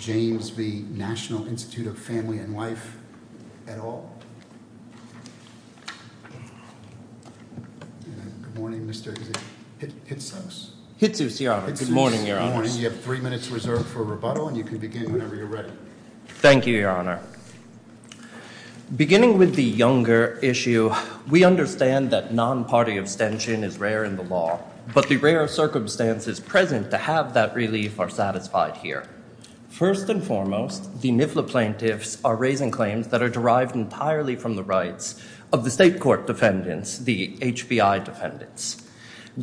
V. National Institute of Family and Life at all? Good morning, Mr. Hitsos. Hitsos, Your Honor. Good morning, Your Honors. You have three minutes reserved for rebuttal and you can begin whenever you're ready. Thank you, Your Honor. Beginning with the younger issue, we understand that non-party abstention is rare in the law, but the rare circumstances present to have that relief are satisfied here. First and foremost, the NIFLA plaintiffs are raising claims that are derived entirely from the rights of the state court defendants, the HBI defendants,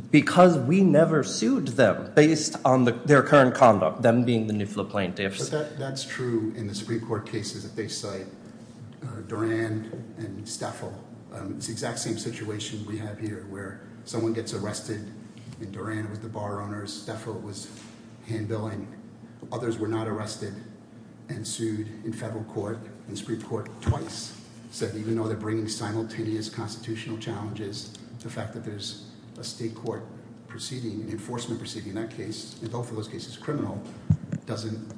because we never sued them based on their current conduct, them being the NIFLA plaintiffs. But that's true in the Supreme Court cases that they cite. Duran and Stafel, it's the exact same situation we have here where someone gets arrested, and Duran was the bar owner, Stafel was hand-billing. Others were not arrested and sued in federal court and Supreme Court twice. So even though they're bringing simultaneous constitutional challenges, the fact that there's a state court proceeding, an enforcement proceeding in that case, in both of those cases, criminal, doesn't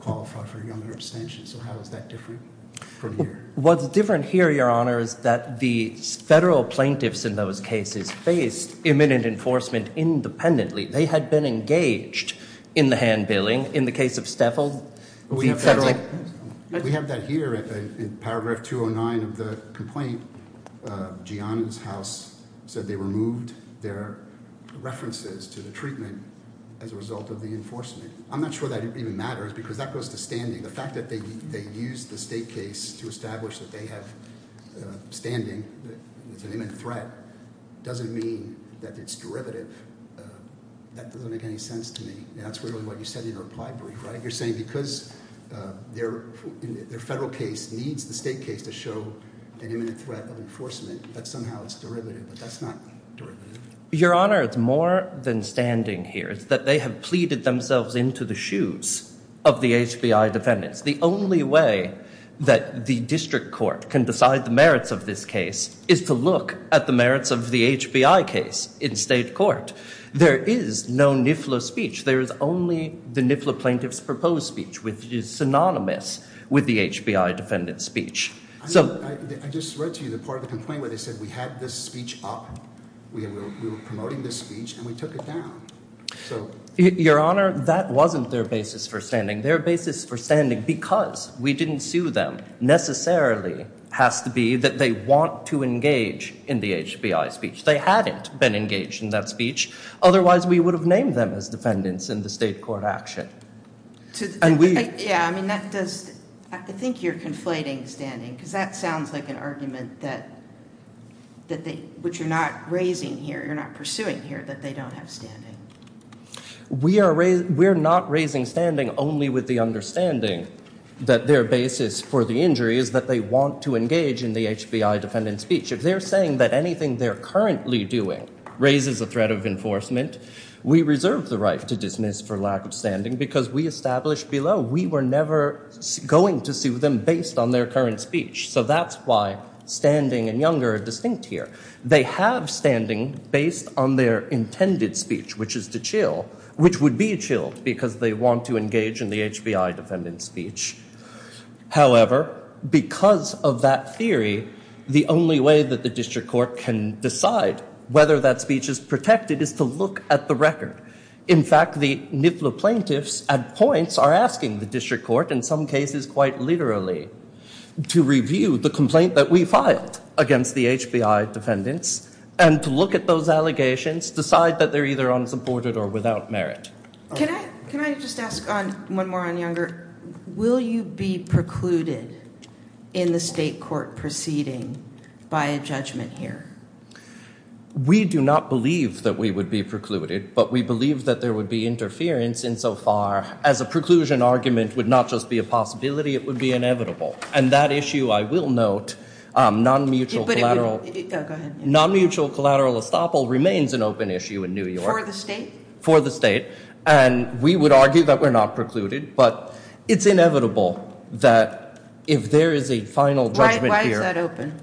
qualify for younger abstention. So how is that different from here? What's different here, Your Honor, is that the federal plaintiffs in those cases faced imminent enforcement independently. They had been engaged in the hand-billing in the case of Stafel. We have that here in Paragraph 209 of the complaint. Gianna's house said they removed their references to the treatment as a result of the enforcement. I'm not sure that even matters because that goes to standing. The fact that they used the state case to establish that they have standing, it's an imminent threat, doesn't mean that it's derivative. That doesn't make any sense to me. That's really what you said in your reply brief, right? You're saying because their federal case needs the state case to show an imminent threat of enforcement, that somehow it's derivative, but that's not derivative. Your Honor, it's more than standing here. It's that they have pleaded themselves into the shoes of the HBI defendants. The only way that the district court can decide the merits of this case is to look at the merits of the HBI case in state court. There is no NIFLA speech. There is only the NIFLA plaintiff's proposed speech, which is synonymous with the HBI defendant's speech. I just read to you the part of the complaint where they said we had this speech up, we were promoting this speech, and we took it down. Your Honor, that wasn't their basis for standing. Their basis for standing because we didn't sue them necessarily has to be that they want to engage in the HBI speech. They hadn't been engaged in that speech, otherwise we would have named them as defendants in the state court action. Yeah, I mean that does, I think you're conflating standing, because that sounds like an argument which you're not raising here, you're not pursuing here, that they don't have standing. We're not raising standing only with the understanding that their basis for the injury is that they want to engage in the HBI defendant's speech. If they're saying that anything they're currently doing raises a threat of enforcement, we reserve the right to dismiss for lack of standing because we established below we were never going to sue them based on their current speech. So that's why standing and younger are distinct here. They have standing based on their intended speech, which is to chill, which would be chilled because they want to engage in the HBI defendant's speech. However, because of that theory, the only way that the district court can decide whether that speech is protected is to look at the record. In fact, the NIFLA plaintiffs at points are asking the district court, in some cases quite literally, to review the complaint that we filed against the HBI defendants and to look at those allegations, decide that they're either unsupported or without merit. Can I just ask one more on younger? Will you be precluded in the state court proceeding by a judgment here? We do not believe that we would be precluded, but we believe that there would be interference insofar as a preclusion argument would not just be a possibility, it would be inevitable. And that issue, I will note, non-mutual collateral estoppel remains an open issue in New York. For the state? For the state. And we would argue that we're not precluded, but it's inevitable that if there is a final judgment here... Why is that open?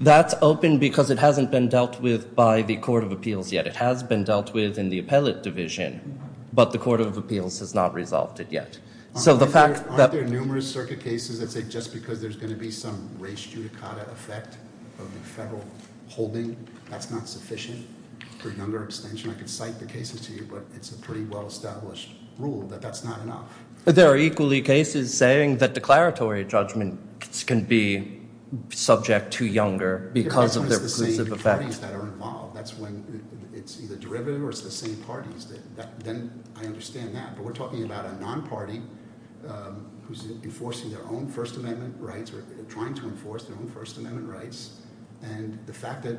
That's open because it hasn't been dealt with by the Court of Appeals yet. It has been dealt with in the Appellate Division, but the Court of Appeals has not resolved it yet. So the fact that... Aren't there numerous circuit cases that say just because there's going to be some race judicata effect of the federal holding, that's not sufficient for younger abstention? I could cite the cases to you, but it's a pretty well-established rule that that's not enough. There are equally cases saying that declaratory judgments can be subject to younger because of the reclusive effect. If it's the same parties that are involved, that's when it's either derivative or it's the same parties, then I understand that. But we're talking about a non-party who's enforcing their own First Amendment rights or trying to enforce their own First Amendment rights, and the fact that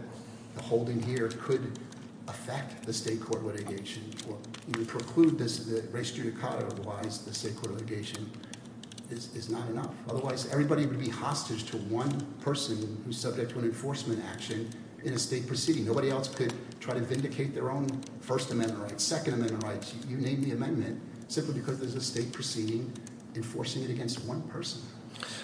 the holding here could affect the state court litigation or even preclude this race judicata-wise, the state court litigation, is not enough. Otherwise, everybody would be hostage to one person who's subject to an enforcement action in a state proceeding. Nobody else could try to vindicate their own First Amendment rights, Second Amendment rights. You named the amendment simply because there's a state proceeding enforcing it against one person.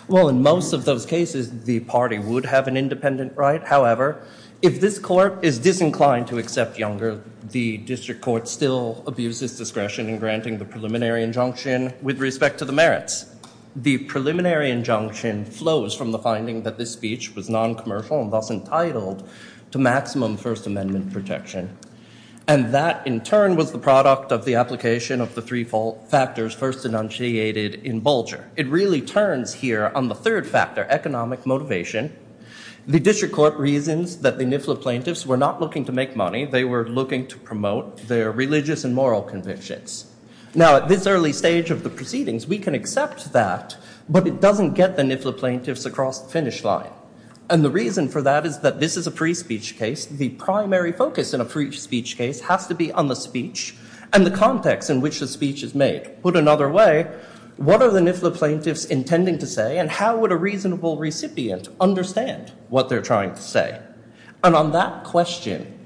Well, in most of those cases, the party would have an independent right. However, if this court is disinclined to accept younger, the district court still abuses discretion in granting the preliminary injunction with respect to the merits. The preliminary injunction flows from the finding that this speech was non-commercial and thus entitled to maximum First Amendment protection. And that, in turn, was the product of the application of the three factors first enunciated in Bulger. It really turns here on the third factor, economic motivation. The district court reasons that the NIFLA plaintiffs were not looking to make money. They were looking to promote their religious and moral convictions. Now, at this early stage of the proceedings, we can accept that. But it doesn't get the NIFLA plaintiffs across the finish line. And the reason for that is that this is a free speech case. The primary focus in a free speech case has to be on the speech and the context in which the speech is made. Put another way, what are the NIFLA plaintiffs intending to say? And how would a reasonable recipient understand what they're trying to say? And on that question,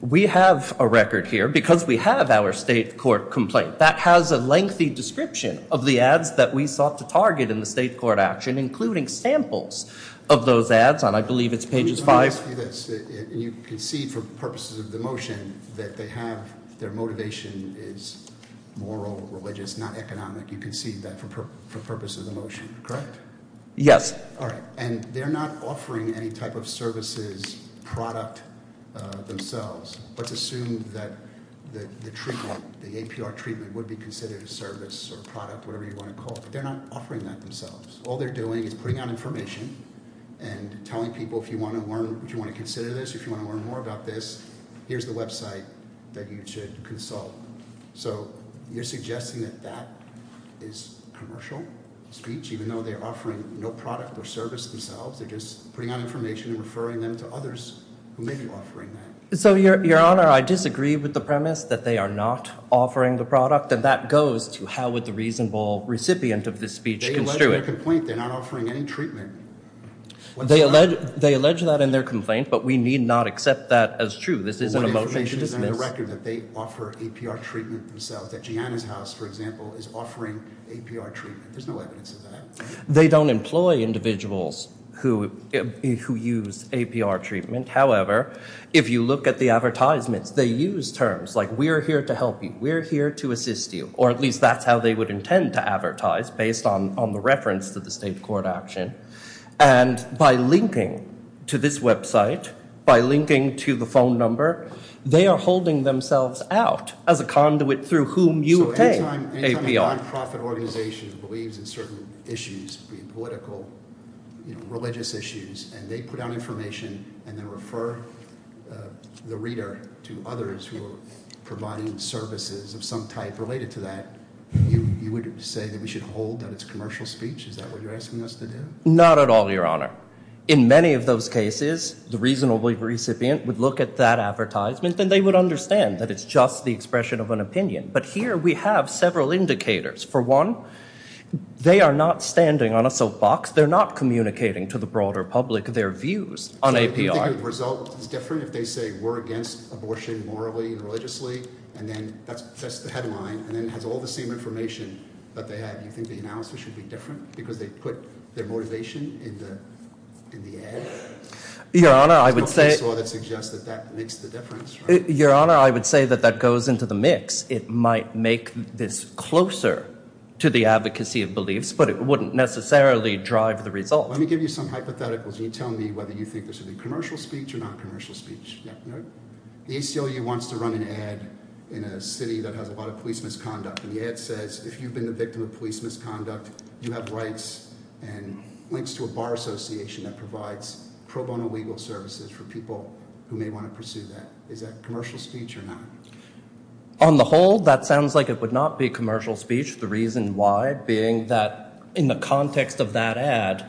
we have a record here because we have our state court complaint that has a lengthy description of the ads that we sought to target in the state court action, including samples of those ads. And I believe it's pages five. Let me ask you this. And you concede for purposes of the motion that they have, their motivation is moral, religious, not economic. You concede that for purpose of the motion, correct? Yes. All right. And they're not offering any type of services product themselves. Let's assume that the treatment, the APR treatment would be considered a service or product, whatever you want to call it. They're not offering that themselves. All they're doing is putting out information and telling people, if you want to learn, if you want to consider this, if you want to learn more about this, here's the website that you should consult. So you're suggesting that that is commercial speech, even though they're offering no product or service themselves. They're just putting out information and referring them to others who may be offering that. So, Your Honor, I disagree with the premise that they are not offering the product. And that goes to how would the reasonable recipient of this speech construe it. They allege in their complaint they're not offering any treatment. They allege that in their complaint, but we need not accept that as true. This is an emotion to dismiss. What information is in the record that they offer APR treatment themselves, that Gianna's House, for example, is offering APR treatment? There's no evidence of that. They don't employ individuals who use APR treatment. However, if you look at the advertisements, they use terms like we're here to help you, we're here to assist you, or at least that's how they would intend to advertise, based on the reference to the state court action. And by linking to this website, by linking to the phone number, they are holding themselves out as a conduit through whom you obtain APR. Any time a non-profit organization believes in certain issues, be it political, religious issues, and they put out information and they refer the reader to others who are providing services of some type related to that, you would say that we should hold that it's commercial speech? Is that what you're asking us to do? Not at all, Your Honor. In many of those cases, the reasonable recipient would look at that advertisement and they would understand that it's just the expression of an opinion. But here we have several indicators. For one, they are not standing on a soapbox. They're not communicating to the broader public their views on APR. Do you think the result is different if they say we're against abortion morally and religiously, and then that's the headline, and then it has all the same information that they had? Do you think the analysis should be different because they put their motivation in the ad? Your Honor, I would say— There's no fakesaw that suggests that that makes the difference, right? Your Honor, I would say that that goes into the mix. It might make this closer to the advocacy of beliefs, but it wouldn't necessarily drive the result. Let me give you some hypotheticals. You tell me whether you think this would be commercial speech or non-commercial speech. The ACLU wants to run an ad in a city that has a lot of police misconduct, and the ad says, if you've been the victim of police misconduct, you have rights and links to a bar association that provides pro bono legal services for people who may want to pursue that. Is that commercial speech or not? On the whole, that sounds like it would not be commercial speech. The reason why being that in the context of that ad,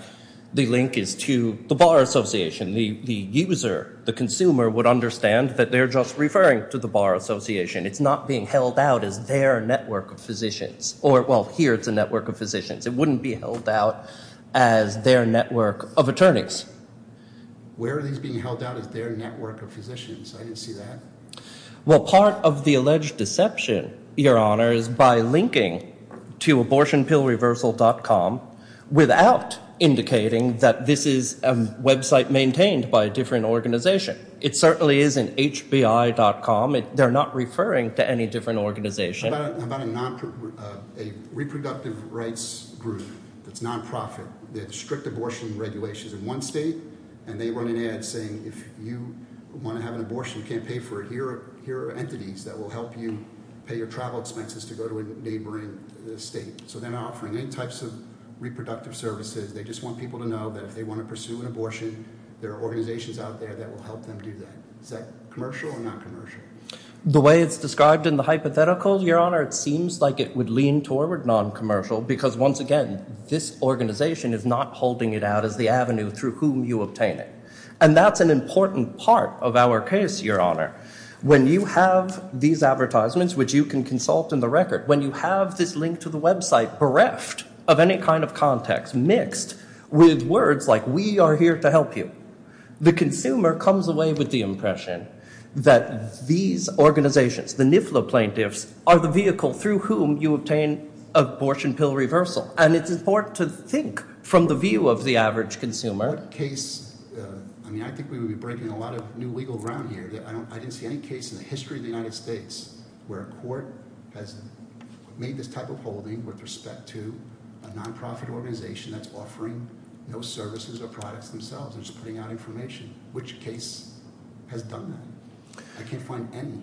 the link is to the bar association. The user, the consumer, would understand that they're just referring to the bar association. It's not being held out as their network of physicians, or—well, here it's a network of physicians. It wouldn't be held out as their network of attorneys. Where are these being held out as their network of physicians? I didn't see that. Well, part of the alleged deception, Your Honor, is by linking to abortionpillreversal.com without indicating that this is a website maintained by a different organization. It certainly isn't hbi.com. They're not referring to any different organization. How about a reproductive rights group that's non-profit, strict abortion regulations in one state, and they run an ad saying, if you want to have an abortion, you can't pay for it. Here are entities that will help you pay your travel expenses to go to a neighboring state. They're not offering any types of reproductive services. They just want people to know that if they want to pursue an abortion, there are organizations out there that will help them do that. Is that commercial or non-commercial? The way it's described in the hypothetical, Your Honor, it seems like it would lean toward non-commercial because, once again, this organization is not holding it out as the avenue through whom you obtain it. And that's an important part of our case, Your Honor. When you have these advertisements, which you can consult in the record, when you have this link to the website bereft of any kind of context mixed with words like, we are here to help you, the consumer comes away with the impression that these organizations, the NIFLA plaintiffs, are the vehicle through whom you obtain abortion pill reversal. And it's important to think from the view of the average consumer. I think we would be breaking a lot of new legal ground here. I didn't see any case in the history of the United States where a court has made this type of holding with respect to a non-profit organization that's offering no services or products themselves and just putting out information. Which case has done that? I can't find any.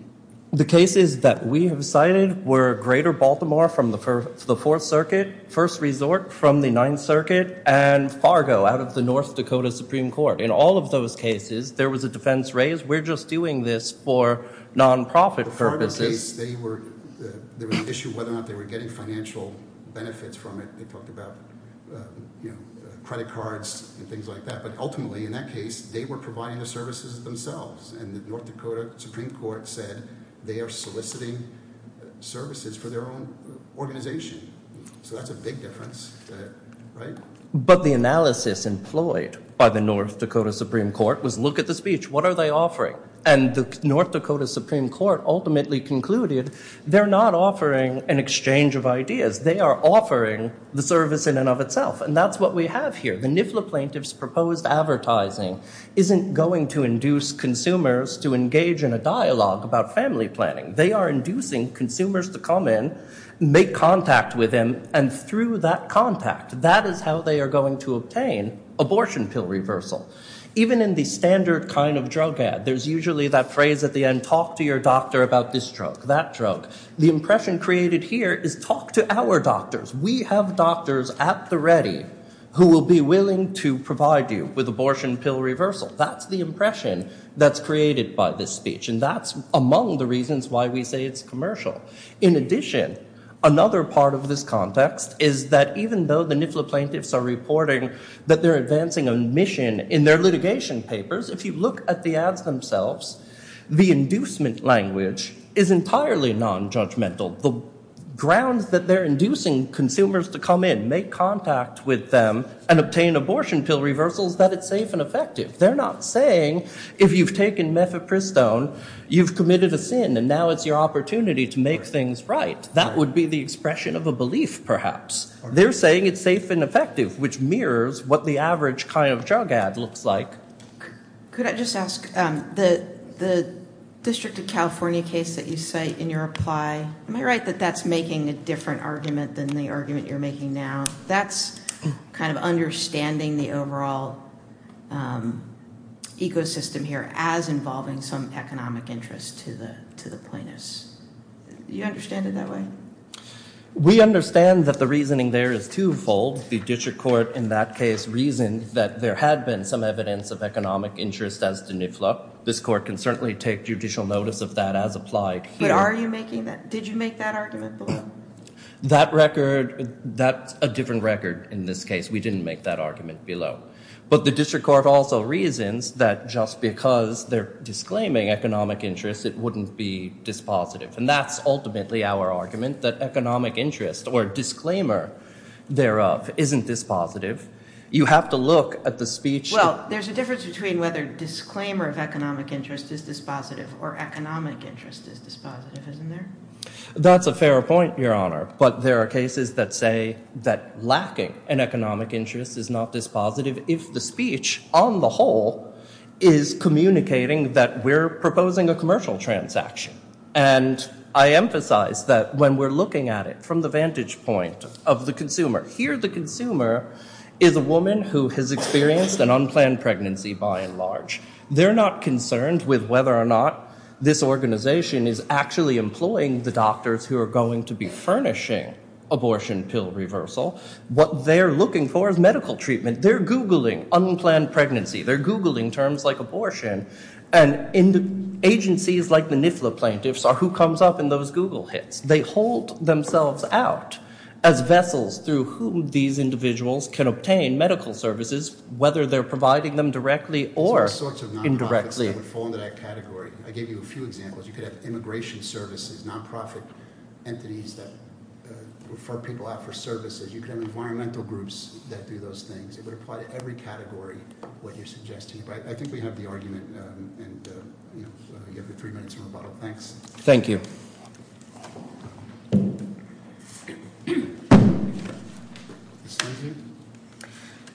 The cases that we have cited were Greater Baltimore from the Fourth Circuit, First Resort from the Ninth Circuit, and Fargo out of the North Dakota Supreme Court. In all of those cases, there was a defense raised, we're just doing this for non-profit purposes. The Fargo case, they were, there was an issue whether or not they were getting financial benefits from it. They talked about, you know, credit cards and things like that. But ultimately, in that case, they were providing the services themselves. And the North Dakota Supreme Court said, they are soliciting services for their own organization. So that's a big difference, right? But the analysis employed by the North Dakota Supreme Court was, look at the speech. What are they offering? And the North Dakota Supreme Court ultimately concluded, they're not offering an exchange of ideas. They are offering the service in and of itself. And that's what we have here. The NIFLA plaintiff's proposed advertising isn't going to induce consumers to engage in a dialogue about family planning. They are inducing consumers to come in, make contact with them, and through that contact, that is how they are going to obtain abortion pill reversal. Even in the standard kind of drug ad, there's usually that phrase at the end, talk to your doctor about this drug, that drug. The impression created here is, talk to our doctors. We have doctors at the ready who will be willing to provide you with abortion pill reversal. That's the impression that's created by this speech. And that's among the reasons why we say it's commercial. In addition, another part of this context is that even though the NIFLA plaintiffs are reporting that they're advancing a mission in their litigation papers, if you look at the ads themselves, the inducement language is entirely non-judgmental. The grounds that they're inducing consumers to come in, make contact with them, and obtain abortion pill reversals, that it's safe and effective. They're not saying, if you've taken methapristone, you've committed a sin, and now it's your opportunity to make things right. That would be the expression of a belief, perhaps. They're saying it's safe and effective, which mirrors what the average kind of drug ad looks like. Could I just ask, the District of California case that you cite in your reply, am I right that that's making a different argument than the argument you're making now? That's kind of understanding the overall ecosystem here as involving some economic interest to the plaintiffs. Do you understand it that way? We understand that the reasoning there is twofold. The district court in that case reasoned that there had been some evidence of economic interest as to NIFLA. This court can certainly take judicial notice of that as applied here. But are you making that, did you make that argument below? That record, that's a different record in this case. We didn't make that argument below. But the district court also reasons that just because they're disclaiming economic interest, it wouldn't be dispositive. And that's ultimately our argument, that economic interest or disclaimer thereof isn't dispositive. You have to look at the speech. Well, there's a difference between whether disclaimer of economic interest is dispositive or economic interest is dispositive, isn't there? That's a fair point, your honor. But there are cases that say that lacking an economic interest is not dispositive if the speech on the whole is communicating that we're proposing a commercial transaction. And I emphasize that when we're looking at it from the vantage point of the consumer, here the consumer is a woman who has experienced an unplanned pregnancy by and large. They're not concerned with whether or not this organization is actually employing the doctors who are going to be furnishing abortion pill reversal. What they're looking for is medical treatment. They're Googling unplanned pregnancy. They're Googling terms like abortion. And agencies like the NIFLA plaintiffs are who comes up in those Google hits. They hold themselves out as vessels through whom these individuals can obtain medical services, whether they're providing them directly or indirectly. I gave you a few examples. You could have immigration services, non-profit entities that refer people out for services. You could have environmental groups that do those things. It would apply to every category, what you're suggesting. But I think we have the argument and you have three minutes from rebuttal. Thanks. Thank you. Ms. Lindsey?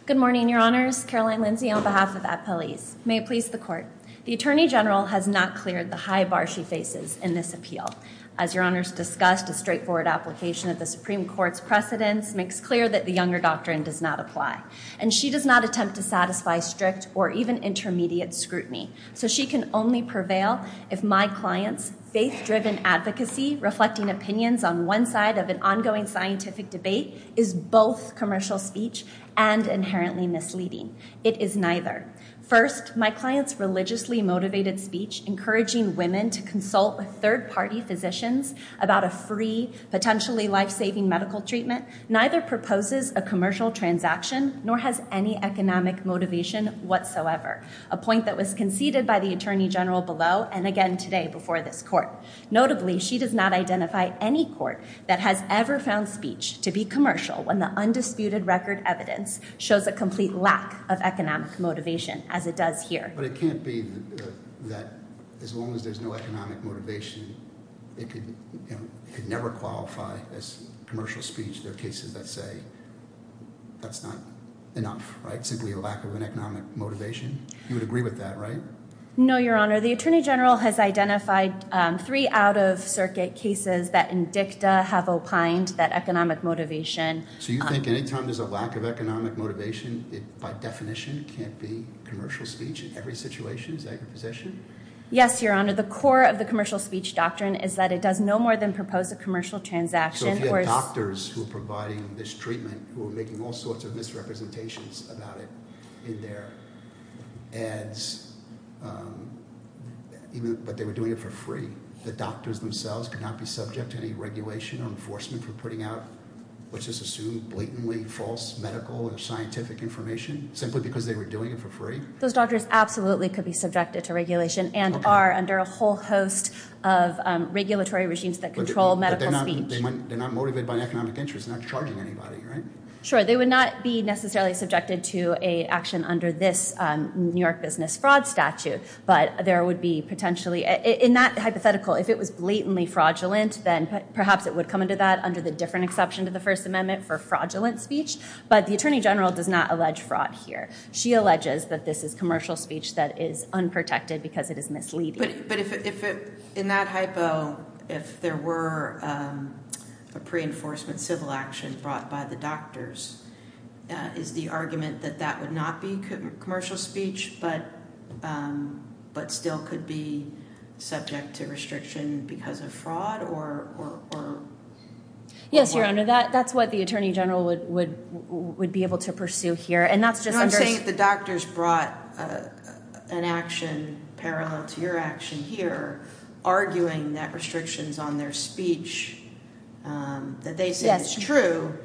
Good morning, Your Honors. Caroline Lindsey on behalf of Appel Ease. May it please the Court. The Attorney General has not cleared the high bar she faces in this appeal. As Your Honors discussed, a straightforward application of the Supreme Court's precedents makes clear that the Younger Doctrine does not apply. And she does not attempt to satisfy strict or even intermediate scrutiny. So she can only prevail if my client's faith-driven advocacy reflecting opinions on one side of an ongoing scientific debate is both commercial speech and inherently misleading. It is neither. First, my client's religiously motivated speech encouraging women to consult with third-party physicians about a free, potentially life-saving medical treatment neither proposes a commercial transaction nor has any economic motivation whatsoever, a point that was conceded by the Attorney General below and again today before this Court. Notably, she does not identify any Court that has ever found speech to be commercial when the undisputed record evidence shows a complete lack of economic motivation as it does here. But it can't be that as long as there's no economic motivation, it could never qualify as commercial speech. There are cases that say that's not enough, right? Simply a lack of an economic motivation. You would agree with that, right? No, Your Honor. The Attorney General has identified three out-of-circuit cases that in dicta have opined that economic motivation. So you think anytime there's a lack of economic motivation, it by definition can't be commercial speech in every situation? Is that your position? Yes, Your Honor. The core of the commercial speech doctrine is that it does no more than propose a commercial transaction. So if you have doctors who are providing this treatment, who are making all sorts of misrepresentations about it in their ads, but they were doing it for free, the doctors themselves could not be subject to any regulation or enforcement for putting out, let's just assume, blatantly false medical or scientific information simply because they were doing it for free? Those doctors absolutely could be subjected to regulation and are under a whole host of regulatory regimes that control medical speech. They're not motivated by economic interest, they're not charging anybody, right? Sure, they would not be necessarily subjected to an action under this New York business fraud statute, but there would be potentially, in that hypothetical, if it was blatantly fraudulent, then perhaps it would come under that under the different exception to the First Amendment for fraudulent speech. But the Attorney General does not allege fraud here. She alleges that this is commercial speech that is unprotected because it is misleading. But if in that hypo, if there were a pre-enforcement civil action brought by the doctors, is the argument that that would not be commercial speech but still could be subject to restriction because of fraud? Yes, Your Honor, that's what the Attorney General would be able to pursue here. And that's just under... I'm saying if the doctors brought an action parallel to your action here, arguing that restrictions on their speech that they say is true,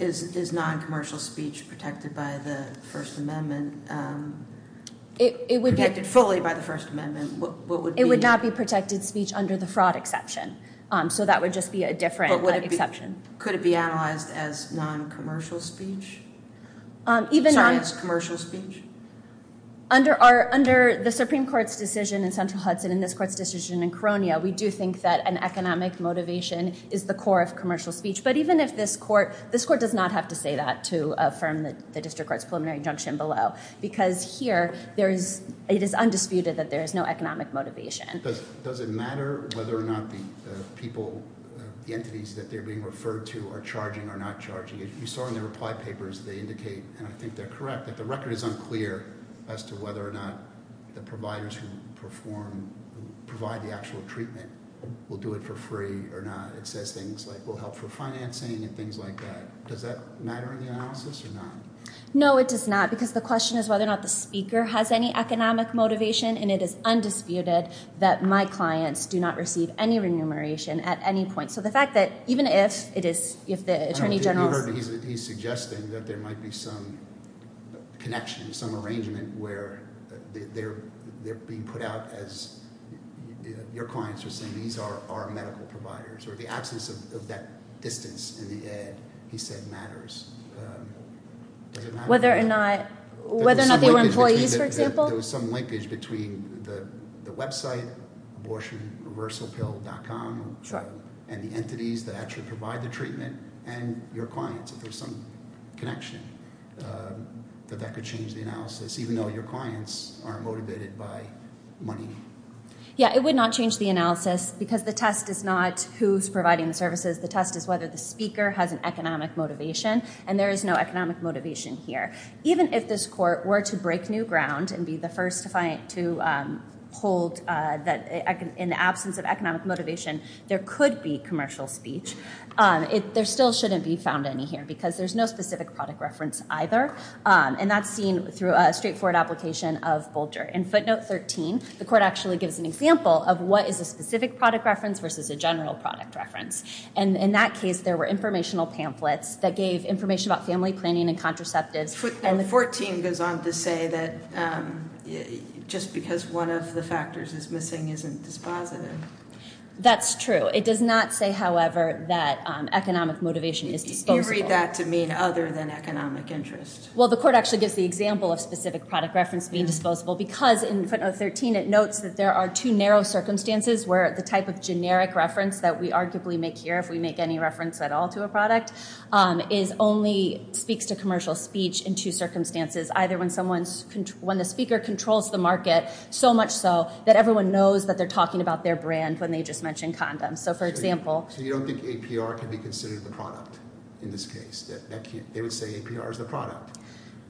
is non-commercial speech protected by the First Amendment? It would be protected fully by the First Amendment. It would not be protected speech under the fraud exception, so that would just be a different exception. Could it be analyzed as non-commercial speech? Science commercial speech? Under the Supreme Court's decision in Central Hudson and this court's decision in Koronia, we do think that an economic motivation is the core of commercial speech. But even if this court... this court does not have to say that to affirm the District Court's preliminary injunction below. Because here, it is undisputed that there is no economic motivation. Does it matter whether or not the people, the entities that you're being referred to, are charging or not charging? If you saw in the reply papers, they indicate, and I think they're correct, that the record is unclear as to whether or not the providers who perform, who provide the actual treatment, will do it for free or not. It says things like will help for financing and things like that. Does that matter in the analysis or not? No, it does not because the question is whether or not the speaker has any economic motivation and it is undisputed that my clients do not receive any remuneration at any point. So the fact that even if it is, if the Attorney General... He's suggesting that there might be some connection, some arrangement where they're being put out as your clients are saying these are our medical providers or the absence of that distance in the Ed, he said, matters. Does it matter? Whether or not they were some linkage between the website abortionreversalpill.com and the entities that actually provide the treatment and your clients, if there's some connection that that could change the analysis even though your clients are motivated by money? Yeah, it would not change the analysis because the test is not who's providing the services. The test is whether the speaker has an economic motivation and there is no economic motivation here. Even if this court were to break new ground and be the first to hold that in the absence of economic motivation, there could be commercial speech. There still shouldn't be found any here because there's no specific product reference either and that's seen through a straightforward application of Bolger. In footnote 13, the court actually gives an example of what is a specific product reference versus a general product reference. In that case, there were informational pamphlets that gave information about family planning and contraceptives. Footnote 14 goes on to say that just because one of the factors is missing isn't dispositive. That's true. It does not say, however, that economic motivation is disposable. You read that to mean other than economic interest. Well, the court actually gives the example of specific product reference being disposable because in footnote 13, it notes that there are two narrow circumstances where the type of generic reference that we arguably make here, if we make any reference at all to a product, only speaks to commercial speech in two circumstances, either when the speaker controls the market so much so that everyone knows that they're talking about their brand when they just mention condoms. So for example... So you don't think APR can be considered the product in this case? They would say APR is the product.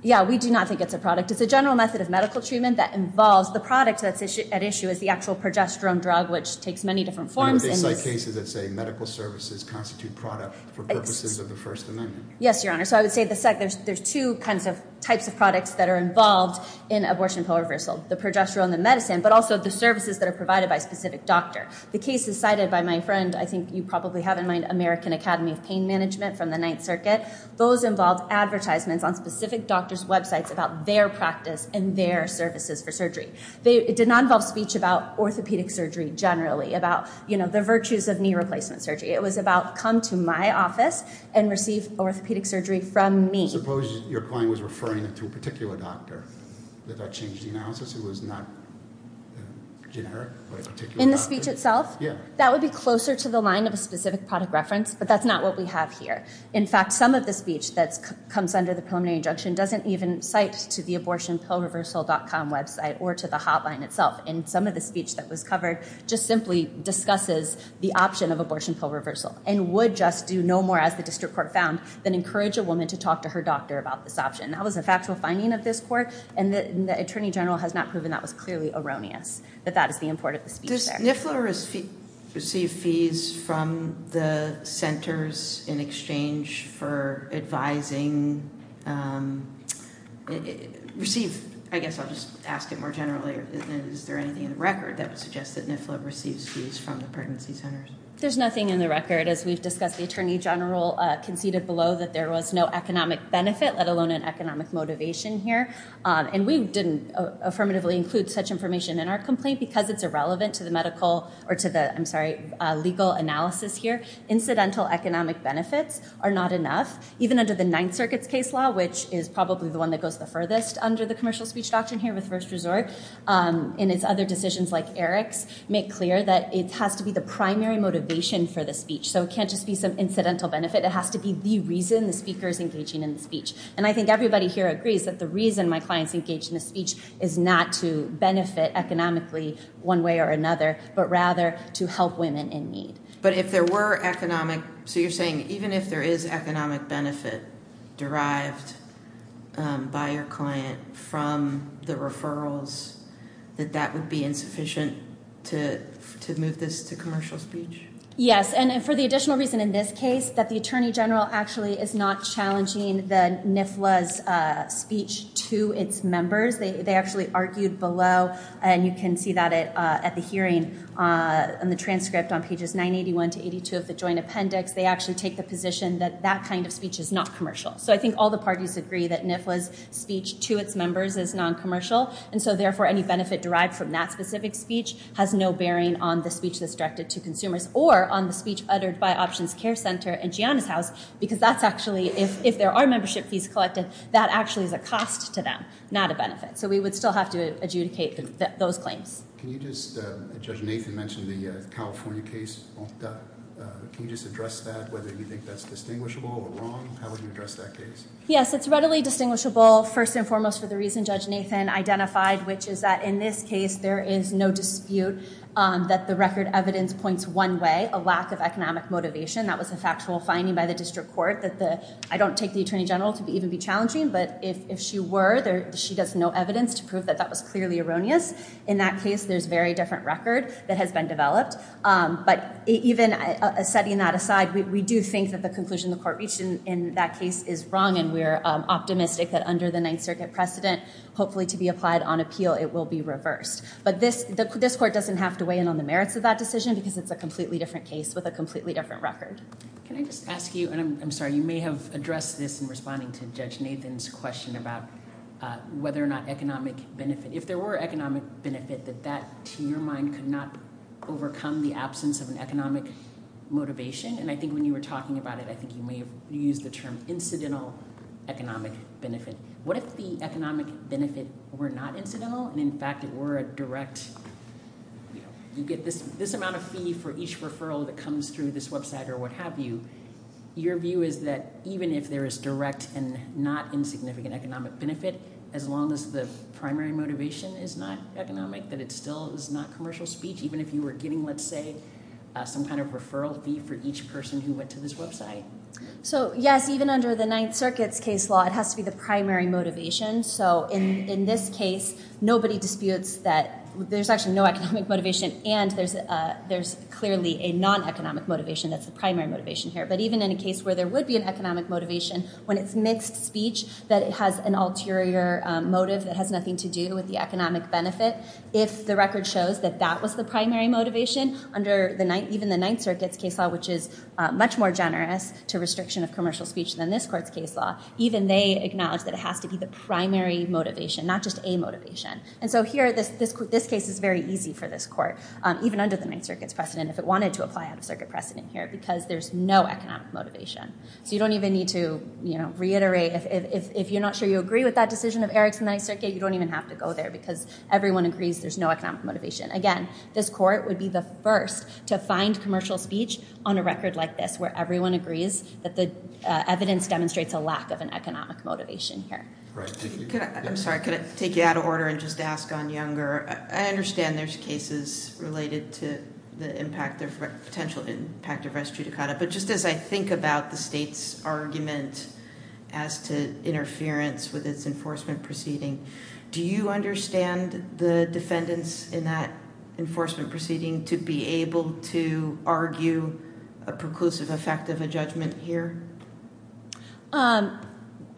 Yeah, we do not think it's a product. It's a general method of medical treatment that involves the product that's at issue is the actual progesterone drug, which takes many different forms. They cite cases that say medical services constitute product for purposes of the First Amendment. Yes, Your Honor. So I would say there's two kinds of types of products that are involved in abortion pro reversal, the progesterone, the medicine, but also the services that are provided by a specific doctor. The case is cited by my friend, I think you probably have in mind, American Academy of Pain Management from the Ninth Circuit. Those involve advertisements on specific doctors' websites about their practice and their services for surgery. It did not involve speech about orthopedic surgery generally, about the virtues of knee replacement surgery. It was about come to my office and receive orthopedic surgery from me. Suppose your client was referring to a particular doctor. Did that change the analysis? It was not generic, but a particular doctor? In the speech itself? Yeah. That would be closer to the line of a specific product reference, but that's not what we have here. In fact, some of the speech that comes under the preliminary injunction doesn't even cite to the abortionproreversal.com website or to the hotline itself, and some of the speech that was covered just simply discusses the option of abortion pro reversal and would just do no more, as the district court found, than encourage a woman to talk to her doctor about this option. That was a factual finding of this court, and the Attorney General has not proven that was clearly erroneous, that that is the import of the speech there. NIFLA received fees from the centers in exchange for advising, receive, I guess I'll just ask it more generally, is there anything in the record that would suggest that NIFLA receives fees from the pregnancy centers? There's nothing in the record, as we've discussed. The Attorney General conceded below that there was no economic benefit, let alone an economic motivation here, and we didn't affirmatively include such information in our legal analysis here. Incidental economic benefits are not enough, even under the Ninth Circuit's case law, which is probably the one that goes the furthest under the commercial speech doctrine here with first resort, and it's other decisions like Eric's make clear that it has to be the primary motivation for the speech, so it can't just be some incidental benefit. It has to be the reason the speaker is engaging in the speech, and I think everybody here agrees that the reason my client's engaged in the speech is not to benefit economically one way or another, but rather to help women in need. But if there were economic, so you're saying even if there is economic benefit derived by your client from the referrals, that that would be insufficient to move this to commercial speech? Yes, and for the additional reason in this case, that the NIFLA's speech to its members, they actually argued below, and you can see that at the hearing in the transcript on pages 981 to 82 of the joint appendix, they actually take the position that that kind of speech is not commercial. So I think all the parties agree that NIFLA's speech to its members is non-commercial, and so therefore any benefit derived from that specific speech has no bearing on the speech that's directed to consumers, or on the speech uttered by Options Care Center and Gianna's house, because that's actually, if there are membership fees collected, that actually is a cost to them, not a benefit. So we would still have to adjudicate those claims. Can you just, Judge Nathan mentioned the California case Monta. Can you just address that, whether you think that's distinguishable or wrong? How would you address that case? Yes, it's readily distinguishable, first and foremost for the reason Judge Nathan identified, which is that in this case there is no dispute that the record evidence points one way, a lack of economic motivation. That was a factual finding by the district court that the, I don't take the Attorney General to even be challenging, but if she were, she does no evidence to prove that that was clearly erroneous. In that case, there's a very different record that has been developed, but even setting that aside, we do think that the conclusion the court reached in that case is wrong, and we're optimistic that under the Ninth Circuit precedent, hopefully to be applied on appeal, it will be reversed. But this court doesn't have to weigh in on the merits of that decision, because it's a completely different case with a completely different record. Can I just ask you, and I'm interested in Judge Nathan's question about whether or not economic benefit, if there were economic benefit, that that, to your mind, could not overcome the absence of an economic motivation? And I think when you were talking about it, I think you may have used the term incidental economic benefit. What if the economic benefit were not incidental, and in fact it were a direct, you get this amount of fee for each referral that comes through this website or what have you, your view is that even if there is direct and not insignificant economic benefit, as long as the primary motivation is not economic, that it still is not commercial speech, even if you were getting, let's say, some kind of referral fee for each person who went to this website? So yes, even under the Ninth Circuit's case law, it has to be the primary motivation. So in this case, nobody disputes that there's actually no economic motivation, and there's clearly a non-economic motivation that's the primary motivation here. But even in a case where there would be an economic motivation, when it's mixed speech, that it has an ulterior motive that has nothing to do with the economic benefit, if the record shows that that was the primary motivation, under even the Ninth Circuit's case law, which is much more generous to restriction of commercial speech than this court's case law, even they acknowledge that it has to be the primary motivation, not just a motivation. And so here, this case is very easy for this court, even under the Ninth Circuit's precedent, if it wanted to apply out-of-circuit precedent here, because there's no economic motivation. So you don't even need to, you know, reiterate. If you're not sure you agree with that decision of Eric's in the Ninth Circuit, you don't even have to go there, because everyone agrees there's no economic motivation. Again, this court would be the first to find commercial speech on a record like this, where everyone agrees that the evidence demonstrates a lack of an economic motivation here. Right. Tiffany? I'm sorry, could I take you out of order and just ask on Younger? I understand there's cases related to the impact, potential impact of res judicata, but just as I think about the state's argument as to interference with its enforcement proceeding, do you understand the defendants in that enforcement proceeding to be able to argue a preclusive effect of a judgment here?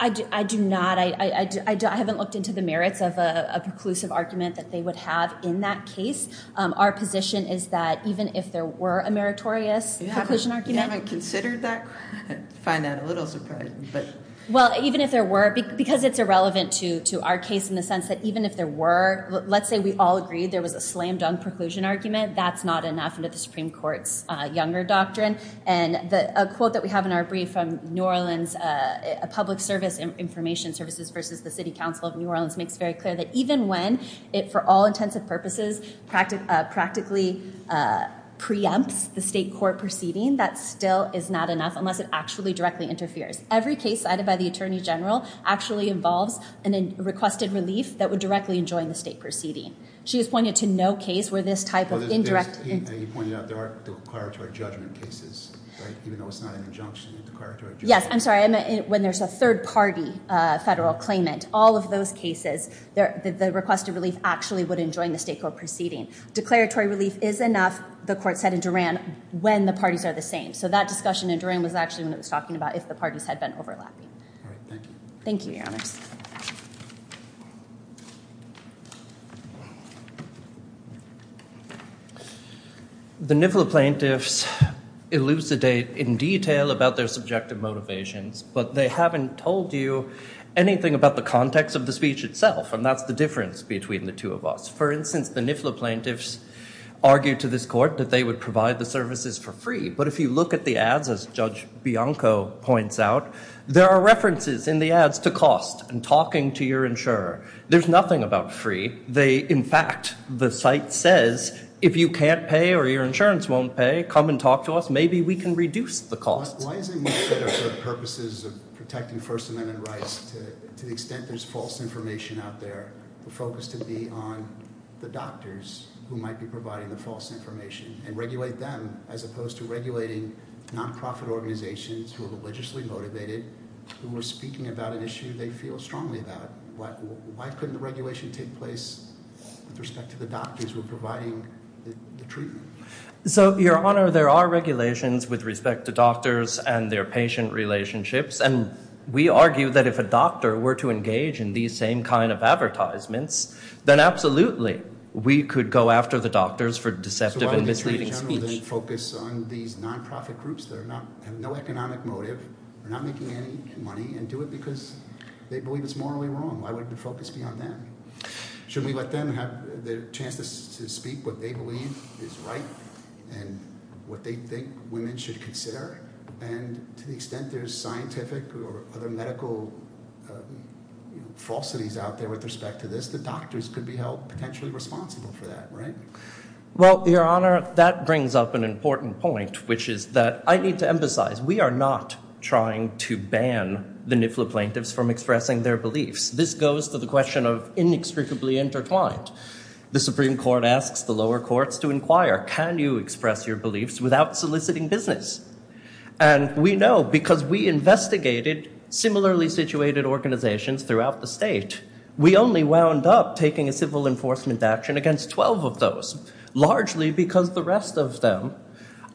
I do not. I haven't looked into the merits of a preclusive argument that they would have in that case. Our position is that even if there were a meritorious preclusion argument... You haven't considered that? I find that a little surprising, but... Well, even if there were, because it's irrelevant to our case in the sense that even if there were, let's say we all agreed there was a slam-dunk preclusion argument, that's not enough into the Supreme Court's Younger doctrine. And a quote that we have in our brief from New Orleans, a public service information services versus the City Council of New Orleans, makes very clear that even when it, for all intents and purposes, practically preempts the state court proceeding, that still is not enough unless it actually directly interferes. Every case cited by the Attorney General actually involves a requested relief that would directly enjoin the state proceeding. She has pointed to no case where this type of indirect... You pointed out there are declaratory judgment cases, right? Even though it's not an injunction... Yes, I'm sorry. When there's a third party federal claimant, all of those cases, the requested relief actually would enjoin the state court proceeding. Declaratory relief is enough, the court said in Duran, when the parties are the same. So that discussion in Duran was actually when it was talking about if the parties had been overlapping. All right, thank you. Thank you, Your Honors. The NIFLA plaintiffs elucidate in detail about their subjective motivations, but they haven't told you anything about the context of the speech itself, and that's the difference between the two of us. For instance, the NIFLA plaintiffs argued to this court that they would provide the services for free. But if you look at the ads, as Judge Bianco points out, there are references in the ads to cost and talking to your insurer. There's nothing about free. In fact, the site says, if you can't pay or your insurance won't pay, come and talk to us. Maybe we can reduce the cost. Why isn't NIFLA for the purposes of protecting First Amendment rights to the extent there's false information out there, the focus to be on the doctors who might be providing the false information and regulate them as opposed to regulating nonprofit organizations who are religiously motivated, who are speaking about an issue they feel strongly about? Why couldn't the regulation take place with respect to the doctors who are providing the treatment? So, Your Honor, there are regulations with respect to doctors and their patient relationships, and we argue that if a doctor were to engage in these same kind of advertisements, then absolutely we could go after the doctors for deceptive and misleading speech. So why would the Attorney General then focus on these nonprofit groups that have no economic motive, are not making any money, and do it because they believe it's morally wrong? Why would the focus be on them? Should we let them have the chance to speak what they believe is right and what they think women should consider? And to the extent there's scientific or other medical falsities out there with respect to this, the doctors could be held potentially responsible for that, right? Well, Your Honor, that brings up an important point, which is that I need to emphasize we are not trying to ban the NIFLA plaintiffs from expressing their beliefs. This goes to the question of inextricably intertwined. The Supreme Court asks the lower courts to inquire, can you express your beliefs without soliciting business? And we know because we investigated similarly situated organizations throughout the state, we only wound up taking a civil enforcement action against 12 of those, largely because the rest of them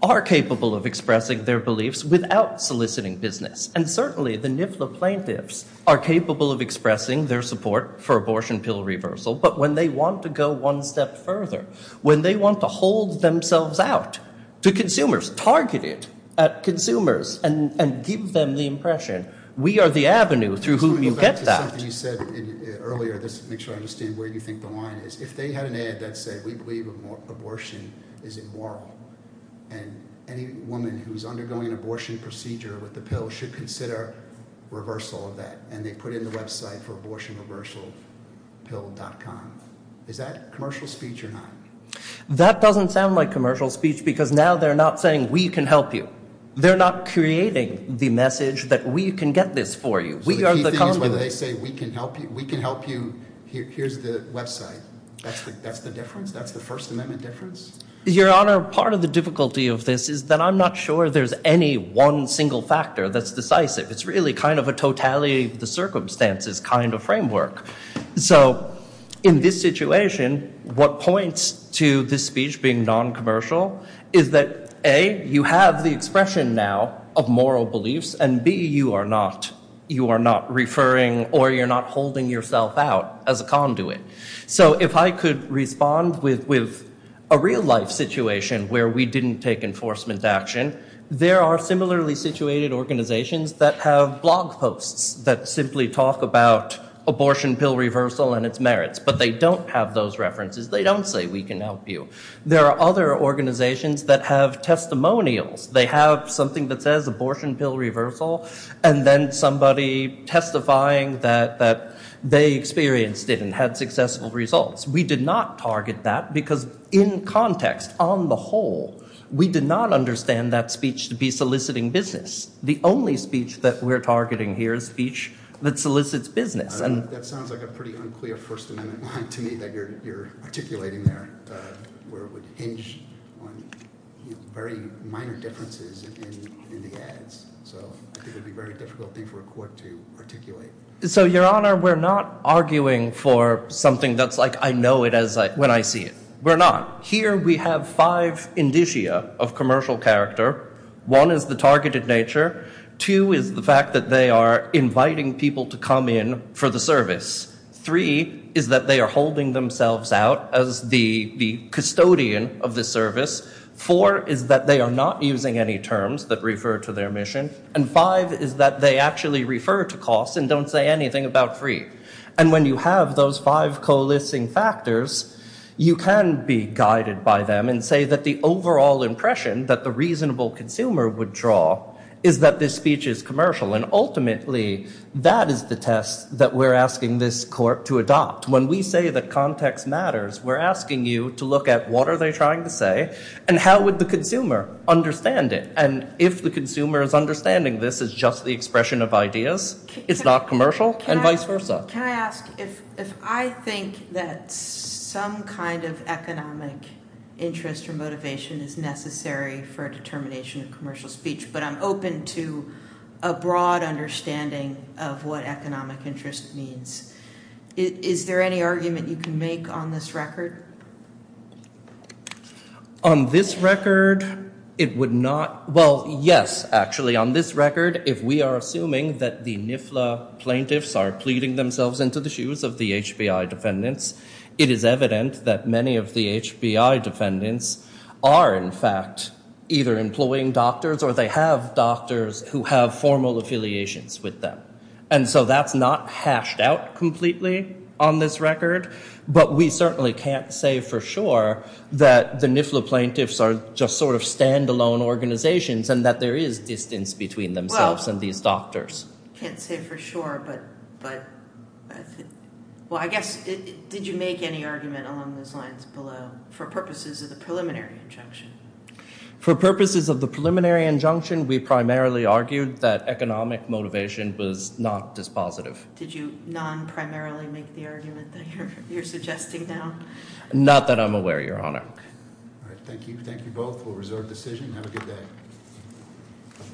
are capable of expressing their beliefs without soliciting business. And certainly the NIFLA plaintiffs are capable of expressing their support for abortion pill reversal, but when they want to go one step further, when they want to hold themselves out to consumers, target it at consumers, and give them the impression we are the avenue through whom you get that. Earlier, just to make sure I understand where you think the line is, if they had an ad that said we believe abortion is immoral, and any woman who's undergoing an abortion procedure with the pill should consider reversal of that, and they put in the website for abortionreversalpill.com. Is that commercial speech or not? That doesn't sound like commercial speech because now they're not saying we can help you. They're not creating the message that we can get this for you. So the key thing is whether they say we can help you, here's the website. That's the difference? That's the First Amendment difference? Your Honor, part of the difficulty of this is that I'm not sure there's any one single factor that's decisive. It's really kind of a totality of the circumstances kind of framework. So in this situation, what points to this speech being non-commercial is that A, you have the expression now of moral beliefs, and B, you are not referring or you're not holding yourself out as a conduit. So if I could respond with a real life situation where we didn't take enforcement action, there are similarly situated organizations that have blog posts that simply talk about abortion pill reversal and its merits, but they don't have those references. They don't say we can help you. There are other organizations that have testimonials. They have something that says abortion pill reversal, and then somebody testifying that they experienced it and had successful results. We did not target that because in context, on the whole, we did not understand that speech to be soliciting business. The only speech that we're targeting here is speech that solicits business. That sounds like a pretty unclear First Amendment line to me that you're articulating there, where it would hinge on very minor differences in the ads. So I think it would be a very difficult thing for a court to articulate. So, Your Honor, we're not arguing for something that's like, I know it as when I see it. We're not. Here we have five indicia of commercial character. One is the targeted nature. Two is the fact that they are inviting people to come in for the service. Three is that they are holding themselves out as the custodian of the service. Four is that they are not using any terms that refer to their mission. And five is that they actually refer to costs and don't say anything about free. And when you have those five coalescing factors, you can be guided by them and say that the overall impression that the reasonable consumer would draw is that this speech is commercial. And ultimately, that is the test that we're asking this court to adopt. When we say that context matters, we're asking you to look at what are they trying to say and how would the consumer understand it. And if the consumer is understanding this as just the expression of ideas, it's not commercial and vice versa. Can I ask if I think that some kind of economic interest or motivation is necessary for a determination of commercial speech, but I'm open to a broad understanding of what economic interest means, is there any argument you can make on this record? On this record, it would not, well yes, actually on this record, if we are assuming that the NIFLA plaintiffs are pleading themselves into the shoes of the HBI defendants, it is evident that many of the HBI defendants are in fact either employing doctors or they have doctors who have formal affiliations with them. And so that's not hashed out completely on this record, but we certainly can't say for sure that the NIFLA plaintiffs are just sort of standalone organizations and that there is distance between themselves and these doctors. Can't say for sure, but well I guess did you make any argument along those lines below for purposes of the preliminary injunction? For purposes of the Was not dispositive. Did you non-primarily make the argument that you're suggesting now? Not that I'm aware, your honor. All right, thank you. Thank you both for a reserved decision. Have a good day.